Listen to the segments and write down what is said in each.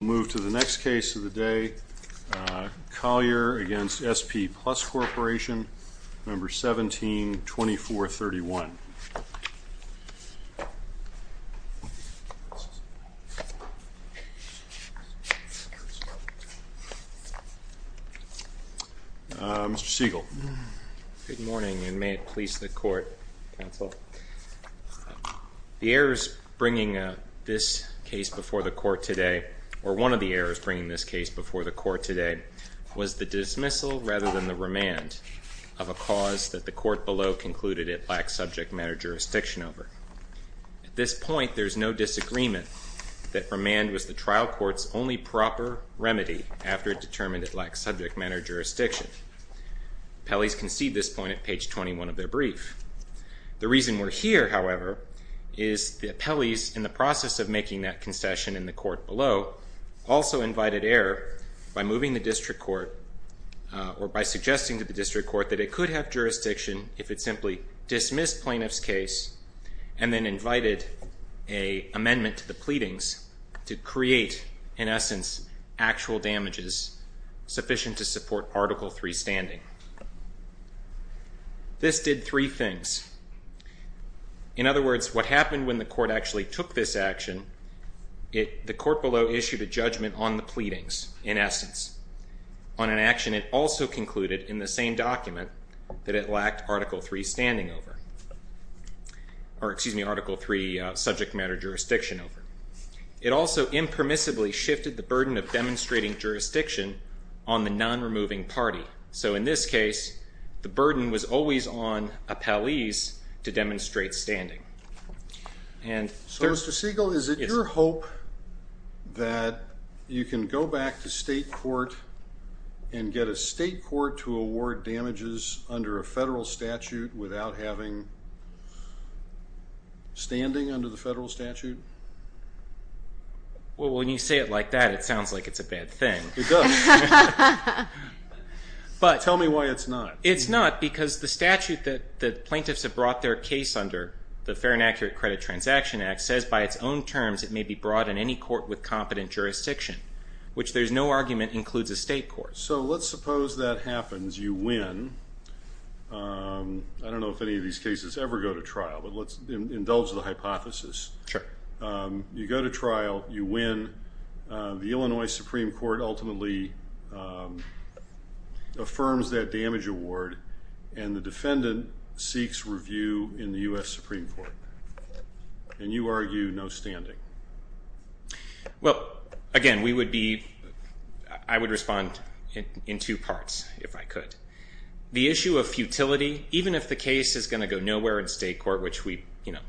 We'll move to the next case of the day, Collier v. SP Plus Corporation, number 17-2431. Mr. Siegel. Good morning, and may it please the Court, Counsel. The errors bringing this case before the Court today, or one of the errors bringing this case before the Court today, was the dismissal rather than the remand of a cause that the Court below concluded it lacked subject matter jurisdiction over. At this point, there is no disagreement that remand was the trial court's only proper remedy after it determined it lacked subject matter jurisdiction. Appellees concede this point at page 21 of their brief. The reason we're here, however, is the appellees in the process of making that concession in the Court below also invited error by moving the district court, or by suggesting to the district court that it could have jurisdiction if it simply dismissed plaintiff's case, and then invited an amendment to the pleadings to create, in essence, actual damages sufficient to support Article III standing. This did three things. In other words, what happened when the Court actually took this action, the Court below issued a judgment on the pleadings, in essence. On an action it also concluded in the same document that it lacked Article III standing over, or excuse me, Article III subject matter jurisdiction over. It also impermissibly shifted the burden of demonstrating jurisdiction on the non-removing party. So in this case, the burden was always on appellees to demonstrate standing. So Mr. Siegel, is it your hope that you can go back to state court and get a state court to award damages under a federal statute without having standing under the federal statute? Well, when you say it like that, it sounds like it's a bad thing. It does. Tell me why it's not. It's not because the statute that plaintiffs have brought their case under, the Fair and Accurate Credit Transaction Act, says by its own terms it may be brought in any court with competent jurisdiction, which there's no argument includes a state court. So let's suppose that happens. You win. I don't know if any of these cases ever go to trial, but let's indulge the hypothesis. Sure. You go to trial. You win. The Illinois Supreme Court ultimately affirms that damage award, and the defendant seeks review in the U.S. Supreme Court. And you argue no standing. Well, again, I would respond in two parts, if I could. The issue of futility, even if the case is going to go nowhere in state court, which we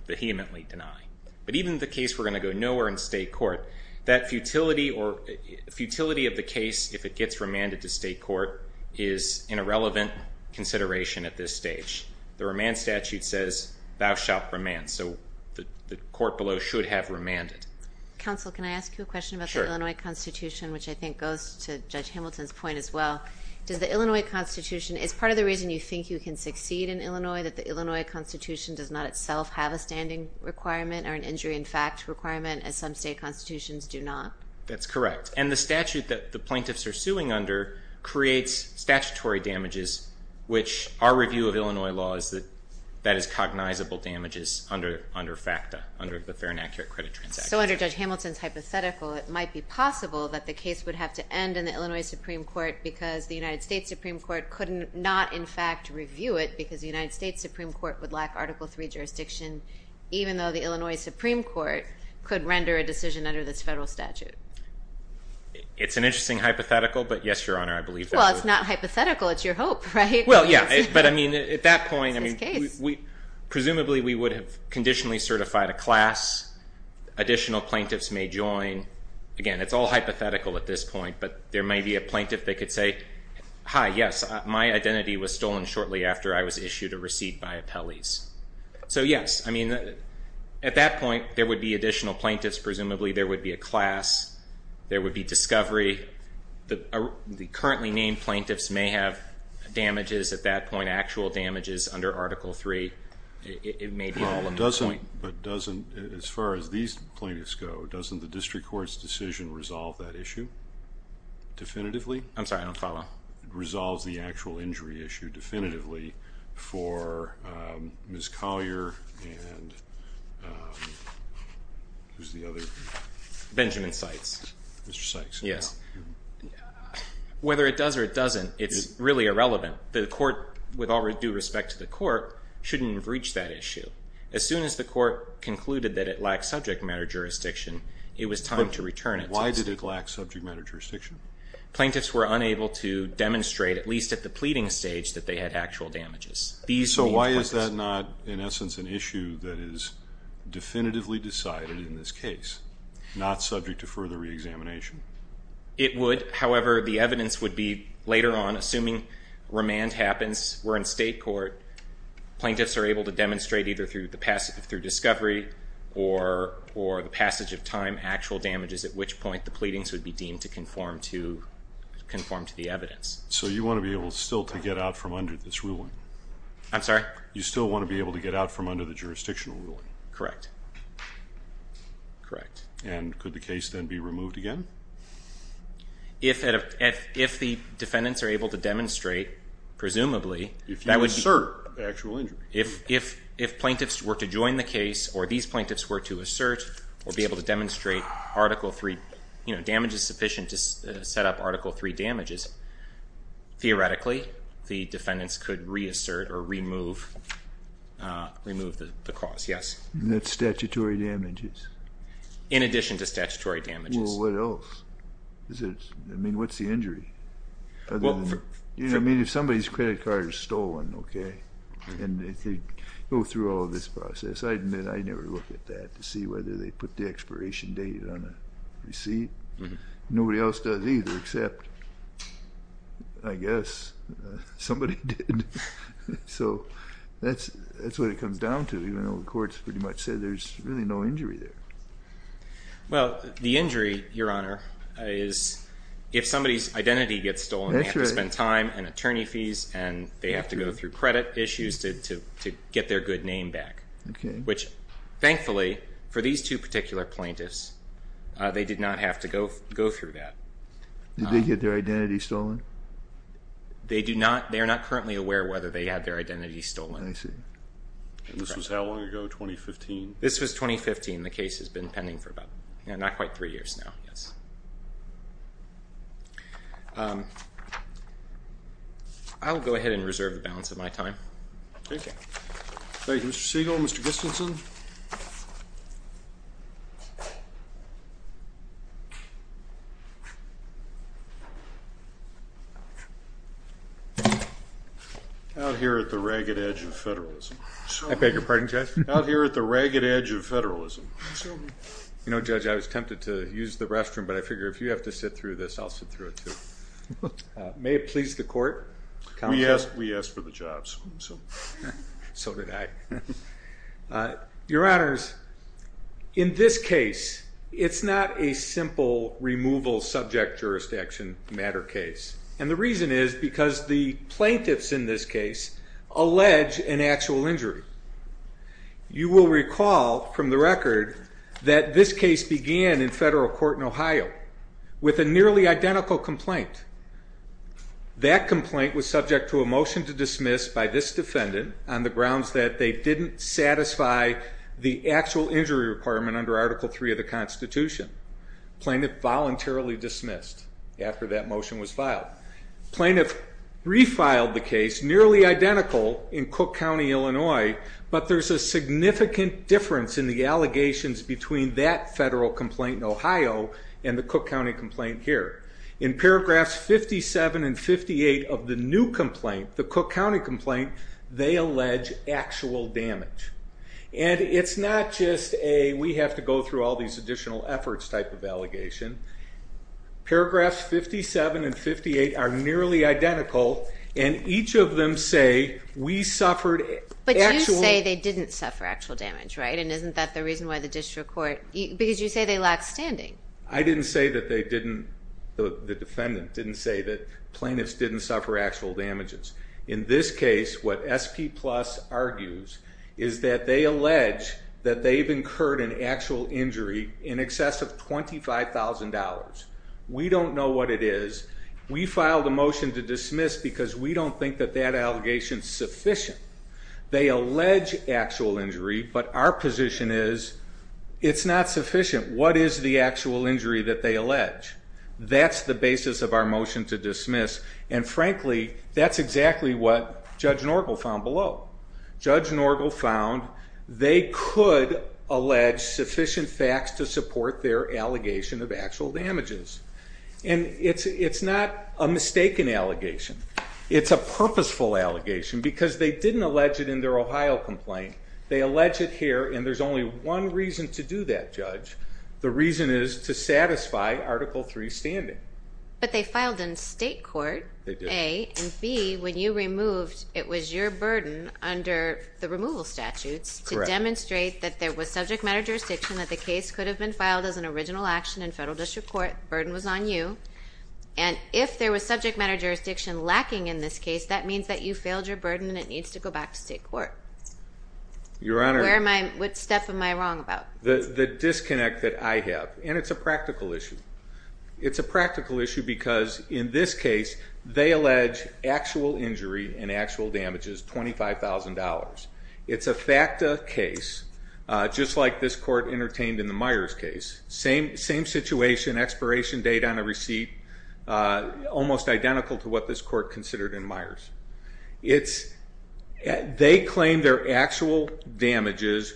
vehemently deny, but even if the case were going to go nowhere in state court, that futility of the case, if it gets remanded to state court, is an irrelevant consideration at this stage. The remand statute says, thou shalt remand. So the court below should have remanded. Counsel, can I ask you a question about the Illinois Constitution, which I think goes to Judge Hamilton's point as well? Does the Illinois Constitution, is part of the reason you think you can succeed in Illinois, that the Illinois Constitution does not itself have a standing requirement or an injury in fact requirement, as some state constitutions do not? That's correct. And the statute that the plaintiffs are suing under creates statutory damages, which our review of Illinois law is that that is cognizable damages under FACTA, under the Fair and Accurate Credit Transaction Act. So under Judge Hamilton's hypothetical, it might be possible that the case would have to end in the Illinois Supreme Court because the United States Supreme Court could not in fact review it, because the United States Supreme Court would lack Article III jurisdiction, even though the Illinois Supreme Court could render a decision under this federal statute. It's an interesting hypothetical, but yes, Your Honor, I believe that. Well, it's not hypothetical. It's your hope, right? Well, yeah, but I mean at that point, presumably we would have conditionally certified a class. Additional plaintiffs may join. Again, it's all hypothetical at this point, but there may be a plaintiff that could say, hi, yes, my identity was stolen shortly after I was issued a receipt by appellees. So yes, I mean at that point, there would be additional plaintiffs. Presumably there would be a class. There would be discovery. The currently named plaintiffs may have damages at that point, actual damages under Article III. It may be all in one point. But doesn't, as far as these plaintiffs go, doesn't the district court's decision resolve that issue definitively? I'm sorry, I don't follow. It resolves the actual injury issue definitively for Ms. Collier and who's the other? Benjamin Sykes. Mr. Sykes. Yes. Whether it does or it doesn't, it's really irrelevant. The court, with all due respect to the court, shouldn't have reached that issue. As soon as the court concluded that it lacked subject matter jurisdiction, it was time to return it. Why did it lack subject matter jurisdiction? Plaintiffs were unable to demonstrate, at least at the pleading stage, that they had actual damages. So why is that not, in essence, an issue that is definitively decided in this case, not subject to further reexamination? It would. However, the evidence would be later on, assuming remand happens, where in state court plaintiffs are able to demonstrate either through discovery or the passage of time actual damages, at which point the pleadings would be deemed to conform to the evidence. So you want to be able still to get out from under this ruling? I'm sorry? You still want to be able to get out from under the jurisdictional ruling? Correct. And could the case then be removed again? If the defendants are able to demonstrate, presumably, that would assert actual injury. If plaintiffs were to join the case or these plaintiffs were to assert or be able to demonstrate Article III, you know, damage is sufficient to set up Article III damages, theoretically, the defendants could reassert or remove the cause, yes. And that's statutory damages? In addition to statutory damages. Well, what else? I mean, what's the injury? I mean, if somebody's credit card is stolen, okay, and they go through all of this process, I never look at that to see whether they put the expiration date on a receipt. Nobody else does either except, I guess, somebody did. So that's what it comes down to, even though the courts pretty much said there's really no injury there. Well, the injury, Your Honor, is if somebody's identity gets stolen, they have to spend time and attorney fees, and they have to go through credit issues to get their good name back. Okay. Which, thankfully, for these two particular plaintiffs, they did not have to go through that. Did they get their identity stolen? They are not currently aware whether they had their identity stolen. I see. And this was how long ago, 2015? This was 2015. The case has been pending for about, you know, not quite three years now, yes. I'll go ahead and reserve the balance of my time. Okay. Thank you, Mr. Siegel. Mr. Gustafson? Out here at the ragged edge of federalism. I beg your pardon, Judge? Out here at the ragged edge of federalism. You know, Judge, I was tempted to use the restroom, but I figure if you have to sit through this, I'll sit through it too. May it please the Court? We asked for the jobs. So did I. Your Honors, in this case, it's not a simple removal subject jurisdiction matter case, and the reason is because the plaintiffs in this case allege an actual injury. You will recall from the record that this case began in federal court in Ohio with a nearly identical complaint. That complaint was subject to a motion to dismiss by this defendant on the grounds that they didn't satisfy the actual injury requirement under Article III of the Constitution. Plaintiff voluntarily dismissed after that motion was filed. Plaintiff refiled the case, nearly identical in Cook County, Illinois, but there's a significant difference in the allegations between that federal complaint in Ohio and the Cook County complaint here. In paragraphs 57 and 58 of the new complaint, the Cook County complaint, they allege actual damage. And it's not just a we have to go through all these additional efforts type of allegation. Paragraphs 57 and 58 are nearly identical, and each of them say we suffered actual. But you say they didn't suffer actual damage, right? And isn't that the reason why the district court? Because you say they lack standing. I didn't say that they didn't. The defendant didn't say that plaintiffs didn't suffer actual damages. In this case, what SP Plus argues is that they allege that they've incurred an actual injury in excess of $25,000. We don't know what it is. We filed a motion to dismiss because we don't think that that allegation is sufficient. They allege actual injury, but our position is it's not sufficient. What is the actual injury that they allege? That's the basis of our motion to dismiss. And, frankly, that's exactly what Judge Norgel found below. Judge Norgel found they could allege sufficient facts to support their allegation of actual damages. And it's not a mistaken allegation. It's a purposeful allegation because they didn't allege it in their Ohio complaint. They allege it here, and there's only one reason to do that, Judge. The reason is to satisfy Article III standing. But they filed in state court, A. And, B, when you removed, it was your burden under the removal statutes to demonstrate that there was subject matter jurisdiction, that the case could have been filed as an original action in federal district court. The burden was on you. And if there was subject matter jurisdiction lacking in this case, that means that you failed your burden and it needs to go back to state court. Your Honor. What step am I wrong about? The disconnect that I have, and it's a practical issue. It's a practical issue because, in this case, they allege actual injury and actual damages, $25,000. It's a FACTA case, just like this court entertained in the Myers case. Same situation, expiration date on a receipt, almost identical to what this court considered in Myers. They claim their actual damages.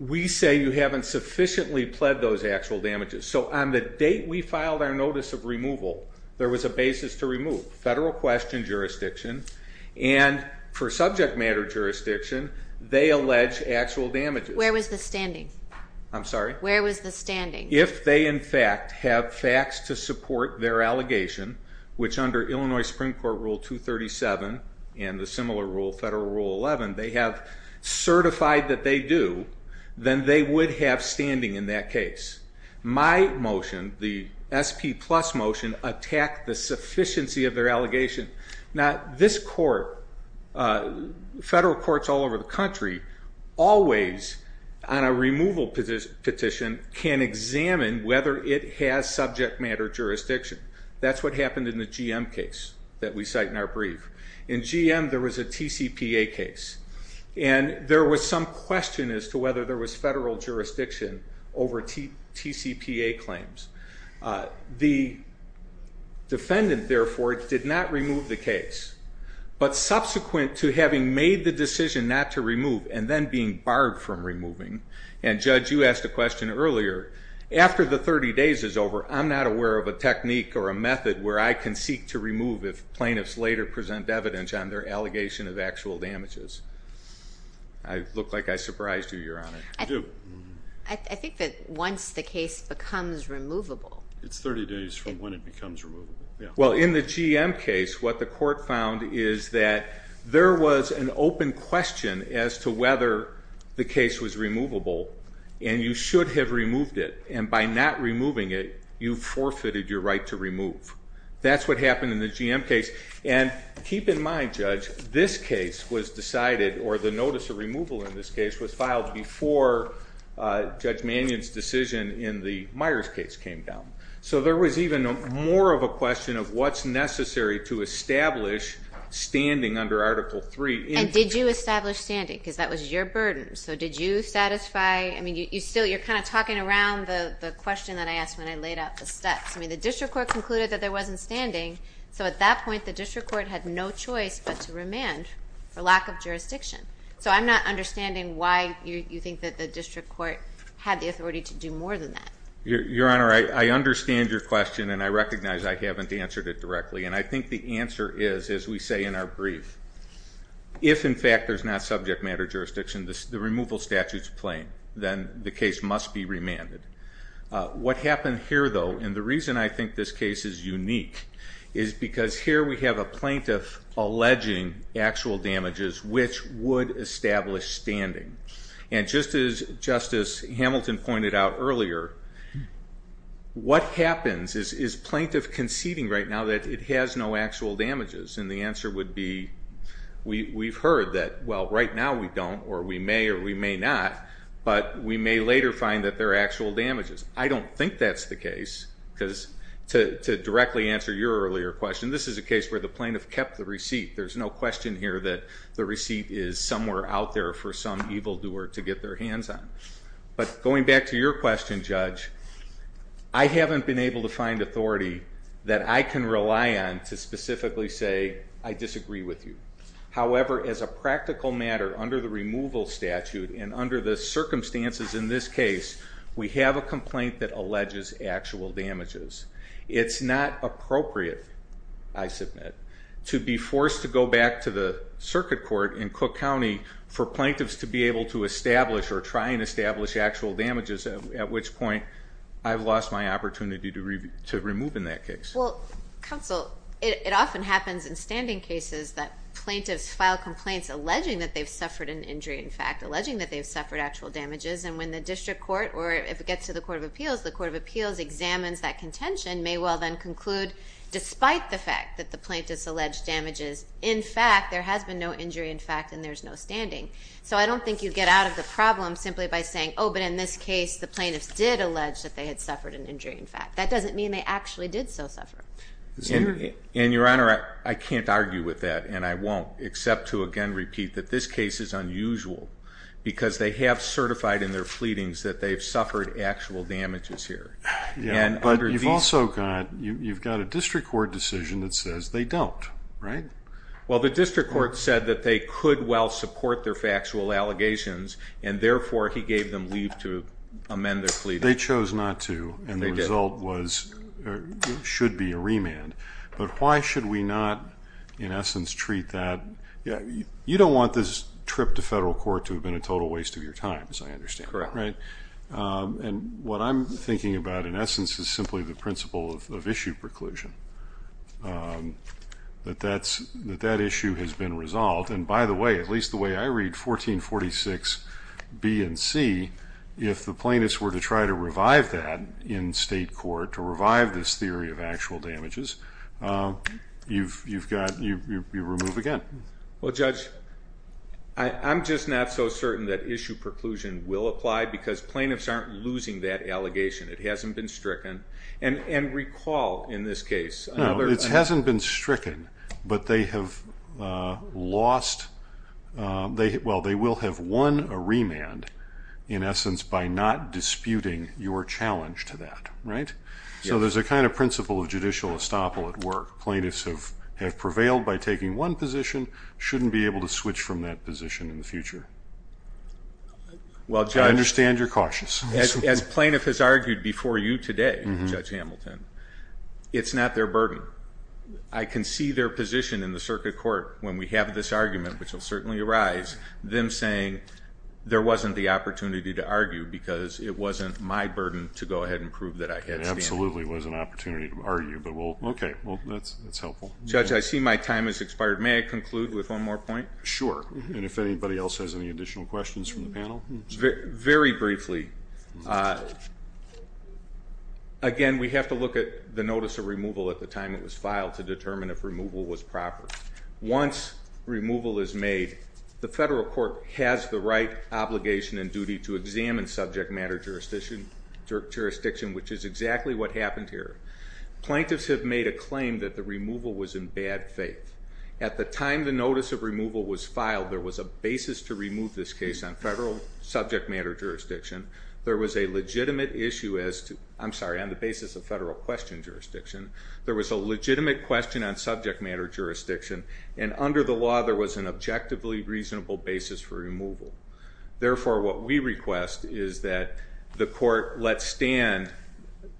We say you haven't sufficiently pled those actual damages. So on the date we filed our notice of removal, there was a basis to remove. Federal question jurisdiction. And for subject matter jurisdiction, they allege actual damages. Where was the standing? I'm sorry? Where was the standing? If they, in fact, have facts to support their allegation, which under Illinois Supreme Court Rule 237 and the similar rule, Federal Rule 11, they have certified that they do, then they would have standing in that case. My motion, the SP plus motion, attacked the sufficiency of their allegation. Now, this court, federal courts all over the country, always on a removal petition can examine whether it has subject matter jurisdiction. That's what happened in the GM case that we cite in our brief. In GM, there was a TCPA case, and there was some question as to whether there was federal jurisdiction over TCPA claims. The defendant, therefore, did not remove the case. But subsequent to having made the decision not to remove and then being barred from removing, and Judge, you asked a question earlier, after the 30 days is over, I'm not aware of a technique or a method where I can seek to remove if plaintiffs later present evidence on their allegation of actual damages. I look like I surprised you, Your Honor. I do. I think that once the case becomes removable. It's 30 days from when it becomes removable. Well, in the GM case, what the court found is that there was an open question as to whether the case was removable, and you should have removed it. And by not removing it, you forfeited your right to remove. That's what happened in the GM case. And keep in mind, Judge, this case was decided, or the notice of removal in this case was filed before Judge Mannion's decision in the Myers case came down. So there was even more of a question of what's necessary to establish standing under Article III. And did you establish standing? Because that was your burden. So did you satisfy? I mean, you're kind of talking around the question that I asked when I laid out the steps. I mean, the district court concluded that there wasn't standing. So at that point, the district court had no choice but to remand for lack of jurisdiction. So I'm not understanding why you think that the district court had the authority to do more than that. Your Honor, I understand your question, and I recognize I haven't answered it directly. And I think the answer is, as we say in our brief, if, in fact, there's not subject matter jurisdiction, the removal statute is plain. Then the case must be remanded. What happened here, though, and the reason I think this case is unique, is because here we have a plaintiff alleging actual damages which would establish standing. And just as Justice Hamilton pointed out earlier, what happens is plaintiff conceding right now that it has no actual damages. And the answer would be we've heard that, well, right now we don't, or we may or we may not, but we may later find that there are actual damages. I don't think that's the case, because to directly answer your earlier question, this is a case where the plaintiff kept the receipt. There's no question here that the receipt is somewhere out there for some evildoer to get their hands on. But going back to your question, Judge, I haven't been able to find authority that I can rely on to specifically say I disagree with you. However, as a practical matter, under the removal statute and under the circumstances in this case, we have a complaint that alleges actual damages. It's not appropriate, I submit, to be forced to go back to the circuit court in Cook County for plaintiffs to be able to establish or try and establish actual damages, at which point I've lost my opportunity to remove in that case. Well, counsel, it often happens in standing cases that plaintiffs file complaints alleging that they've suffered an injury, in fact, alleging that they've suffered actual damages. And when the district court, or if it gets to the court of appeals, the court of appeals examines that contention may well then conclude, despite the fact that the plaintiff's alleged damages, in fact there has been no injury, in fact, and there's no standing. So I don't think you get out of the problem simply by saying, oh, but in this case the plaintiffs did allege that they had suffered an injury, in fact. That doesn't mean they actually did so suffer. And, Your Honor, I can't argue with that, and I won't, except to again repeat that this case is unusual because they have certified in their pleadings that they've suffered actual damages here. Yeah, but you've also got a district court decision that says they don't, right? Well, the district court said that they could well support their factual allegations, and therefore he gave them leave to amend their pleadings. They chose not to, and the result was there should be a remand. But why should we not, in essence, treat that? You don't want this trip to federal court to have been a total waste of your time, as I understand, right? Correct. And what I'm thinking about, in essence, is simply the principle of issue preclusion, that that issue has been resolved. And, by the way, at least the way I read 1446B and C, if the plaintiffs were to try to revive that in state court, to revive this theory of actual damages, you remove again. Well, Judge, I'm just not so certain that issue preclusion will apply because plaintiffs aren't losing that allegation. It hasn't been stricken. And recall, in this case, another... No, it hasn't been stricken, but they have lost. Well, they will have won a remand, in essence, by not disputing your challenge to that, right? So there's a kind of principle of judicial estoppel at work. Plaintiffs have prevailed by taking one position, shouldn't be able to switch from that position in the future. I understand you're cautious. As plaintiff has argued before you today, Judge Hamilton, it's not their burden. I can see their position in the circuit court when we have this argument, which will certainly arise, them saying there wasn't the opportunity to argue because it wasn't my burden to go ahead and prove that I had standing. It absolutely was an opportunity to argue. Okay, well, that's helpful. Judge, I see my time has expired. May I conclude with one more point? Sure, and if anybody else has any additional questions from the panel? Very briefly, again, we have to look at the notice of removal at the time it was filed to determine if removal was proper. Once removal is made, the federal court has the right, obligation, and duty to examine subject matter jurisdiction, which is exactly what happened here. Plaintiffs have made a claim that the removal was in bad faith. At the time the notice of removal was filed, there was a basis to remove this case on federal subject matter jurisdiction. There was a legitimate issue as to, I'm sorry, on the basis of federal question jurisdiction. There was a legitimate question on subject matter jurisdiction, and under the law there was an objectively reasonable basis for removal. Therefore, what we request is that the court let stand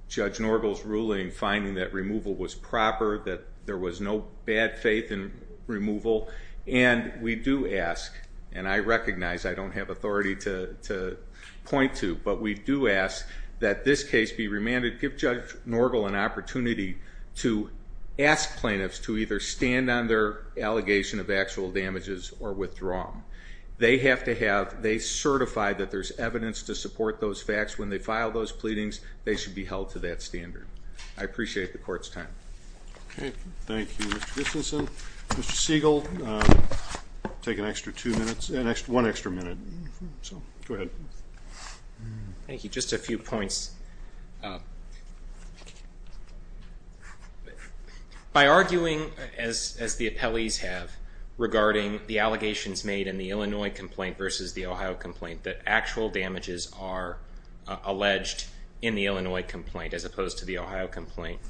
Judge Norgal's ruling finding that removal was proper, that there was no bad faith in removal, and we do ask, and I recognize I don't have authority to point to, but we do ask that this case be remanded. We give Judge Norgal an opportunity to ask plaintiffs to either stand on their allegation of actual damages or withdraw them. They have to have, they certify that there's evidence to support those facts. When they file those pleadings, they should be held to that standard. I appreciate the court's time. Okay. Thank you, Mr. Christensen. Mr. Siegel, take an extra two minutes, one extra minute. Go ahead. Thank you. Just a few points. By arguing, as the appellees have, regarding the allegations made in the Illinois complaint versus the Ohio complaint, that actual damages are alleged in the Illinois complaint as opposed to the Ohio complaint,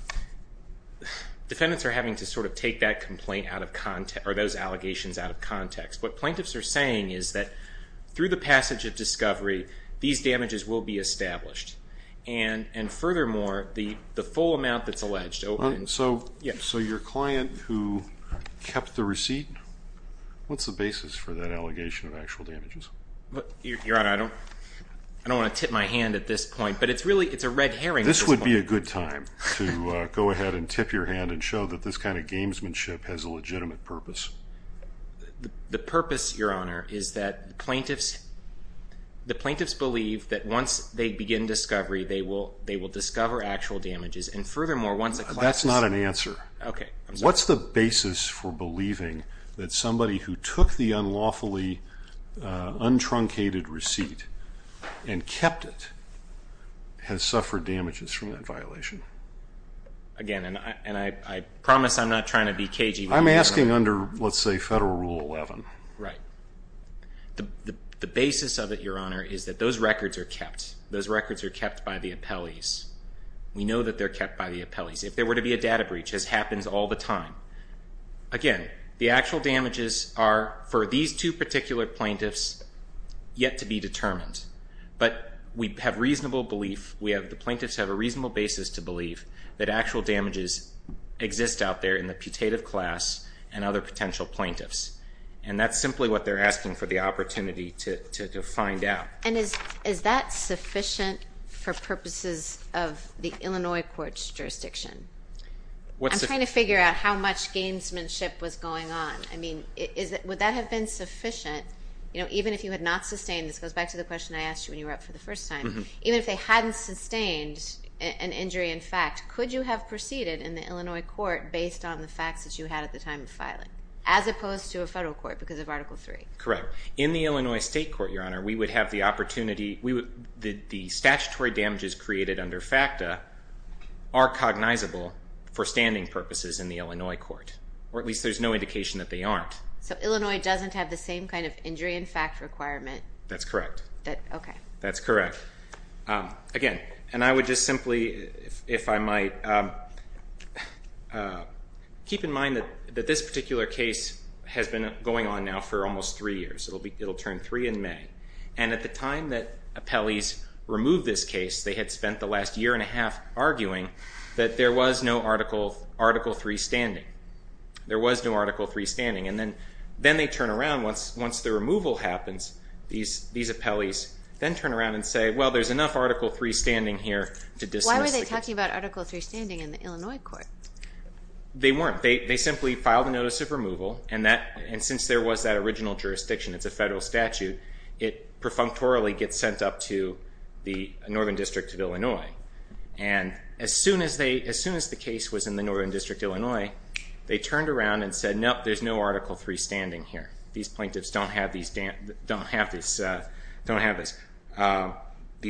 defendants are having to sort of take that complaint out of context, or those allegations out of context. What plaintiffs are saying is that through the passage of discovery, these damages will be established. And furthermore, the full amount that's alleged. So your client who kept the receipt, what's the basis for that allegation of actual damages? Your Honor, I don't want to tip my hand at this point, but it's really a red herring at this point. This would be a good time to go ahead and tip your hand and show that this kind of gamesmanship has a legitimate purpose. The purpose, Your Honor, is that the plaintiffs believe that once they begin discovery, they will discover actual damages. And furthermore, once a class is- That's not an answer. Okay. I'm sorry. What's the basis for believing that somebody who took the unlawfully untruncated receipt and kept it has suffered damages from that violation? Again, and I promise I'm not trying to be cagey. I'm asking under, let's say, Federal Rule 11. Right. The basis of it, Your Honor, is that those records are kept. Those records are kept by the appellees. We know that they're kept by the appellees. If there were to be a data breach, as happens all the time, again, the actual damages are, for these two particular plaintiffs, yet to be determined. But we have reasonable belief, the plaintiffs have a reasonable basis to believe, that actual damages exist out there in the putative class and other potential plaintiffs. And that's simply what they're asking for the opportunity to find out. And is that sufficient for purposes of the Illinois court's jurisdiction? I'm trying to figure out how much gamesmanship was going on. I mean, would that have been sufficient? Even if you had not sustained, this goes back to the question I asked you when you were up for the first time, even if they hadn't sustained an injury in fact, could you have proceeded in the Illinois court based on the facts that you had at the time of filing, as opposed to a federal court because of Article 3? Correct. In the Illinois state court, Your Honor, we would have the opportunity, the statutory damages created under FACTA are cognizable for standing purposes in the Illinois court, or at least there's no indication that they aren't. So Illinois doesn't have the same kind of injury in fact requirement? That's correct. Okay. That's correct. Again, and I would just simply, if I might, keep in mind that this particular case has been going on now for almost 3 years. It'll turn 3 in May. And at the time that appellees removed this case, they had spent the last year and a half arguing that there was no Article 3 standing. There was no Article 3 standing. And then they turn around once the removal happens, these appellees then turn around and say, well, there's enough Article 3 standing here to dismiss the case. Why were they talking about Article 3 standing in the Illinois court? They weren't. They simply filed a notice of removal, and since there was that original jurisdiction, it's a federal statute, it perfunctorily gets sent up to the Northern District of Illinois. And as soon as the case was in the Northern District of Illinois, they turned around and said, no, there's no Article 3 standing here. These plaintiffs don't have these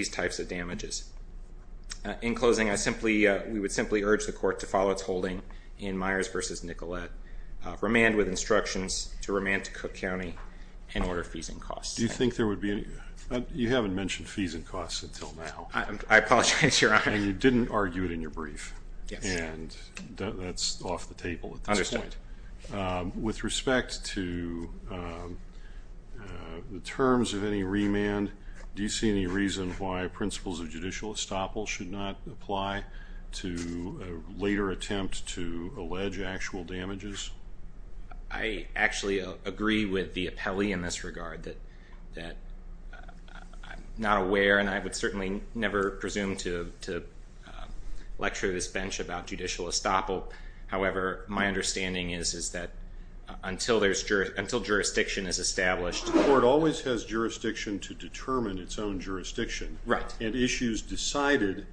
types of damages. In closing, we would simply urge the court to follow its holding in Myers v. Nicolet, remand with instructions to remand to Cook County in order of fees and costs. Do you think there would be any? You haven't mentioned fees and costs until now. I apologize, Your Honor. And you didn't argue it in your brief. Yes. And that's off the table at this point. Understood. With respect to the terms of any remand, do you see any reason why principles of judicial estoppel should not apply to a later attempt to allege actual damages? I actually agree with the appellee in this regard, that I'm not aware and I would certainly never presume to lecture this bench about judicial estoppel. However, my understanding is that until jurisdiction is established. The court always has jurisdiction to determine its own jurisdiction. Right. And issues decided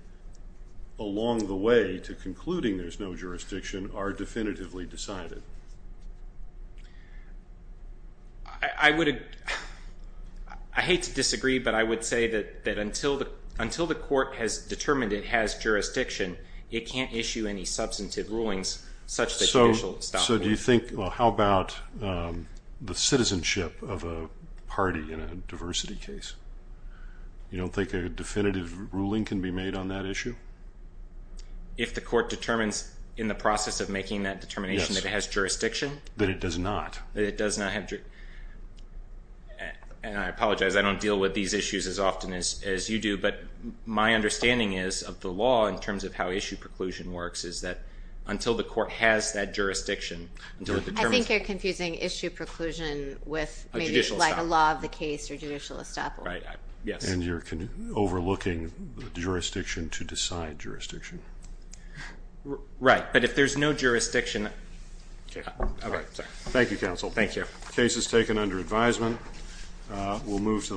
along the way to concluding there's no jurisdiction are definitively decided. I hate to disagree, but I would say that until the court has determined it has jurisdiction, it can't issue any substantive rulings such as judicial estoppel. So do you think, well, how about the citizenship of a party in a diversity case? You don't think a definitive ruling can be made on that issue? If the court determines in the process of making that determination that it has jurisdiction? That it does not. That it does not have jurisdiction. And I apologize, I don't deal with these issues as often as you do, but my understanding is of the law in terms of how issue preclusion works is that until the court has that jurisdiction, until it determines. I think you're confusing issue preclusion with maybe like a law of the case or judicial estoppel. Right. Yes. And you're overlooking jurisdiction to decide jurisdiction. Right. But if there's no jurisdiction. Thank you, counsel. Thank you. The case is taken under advisement.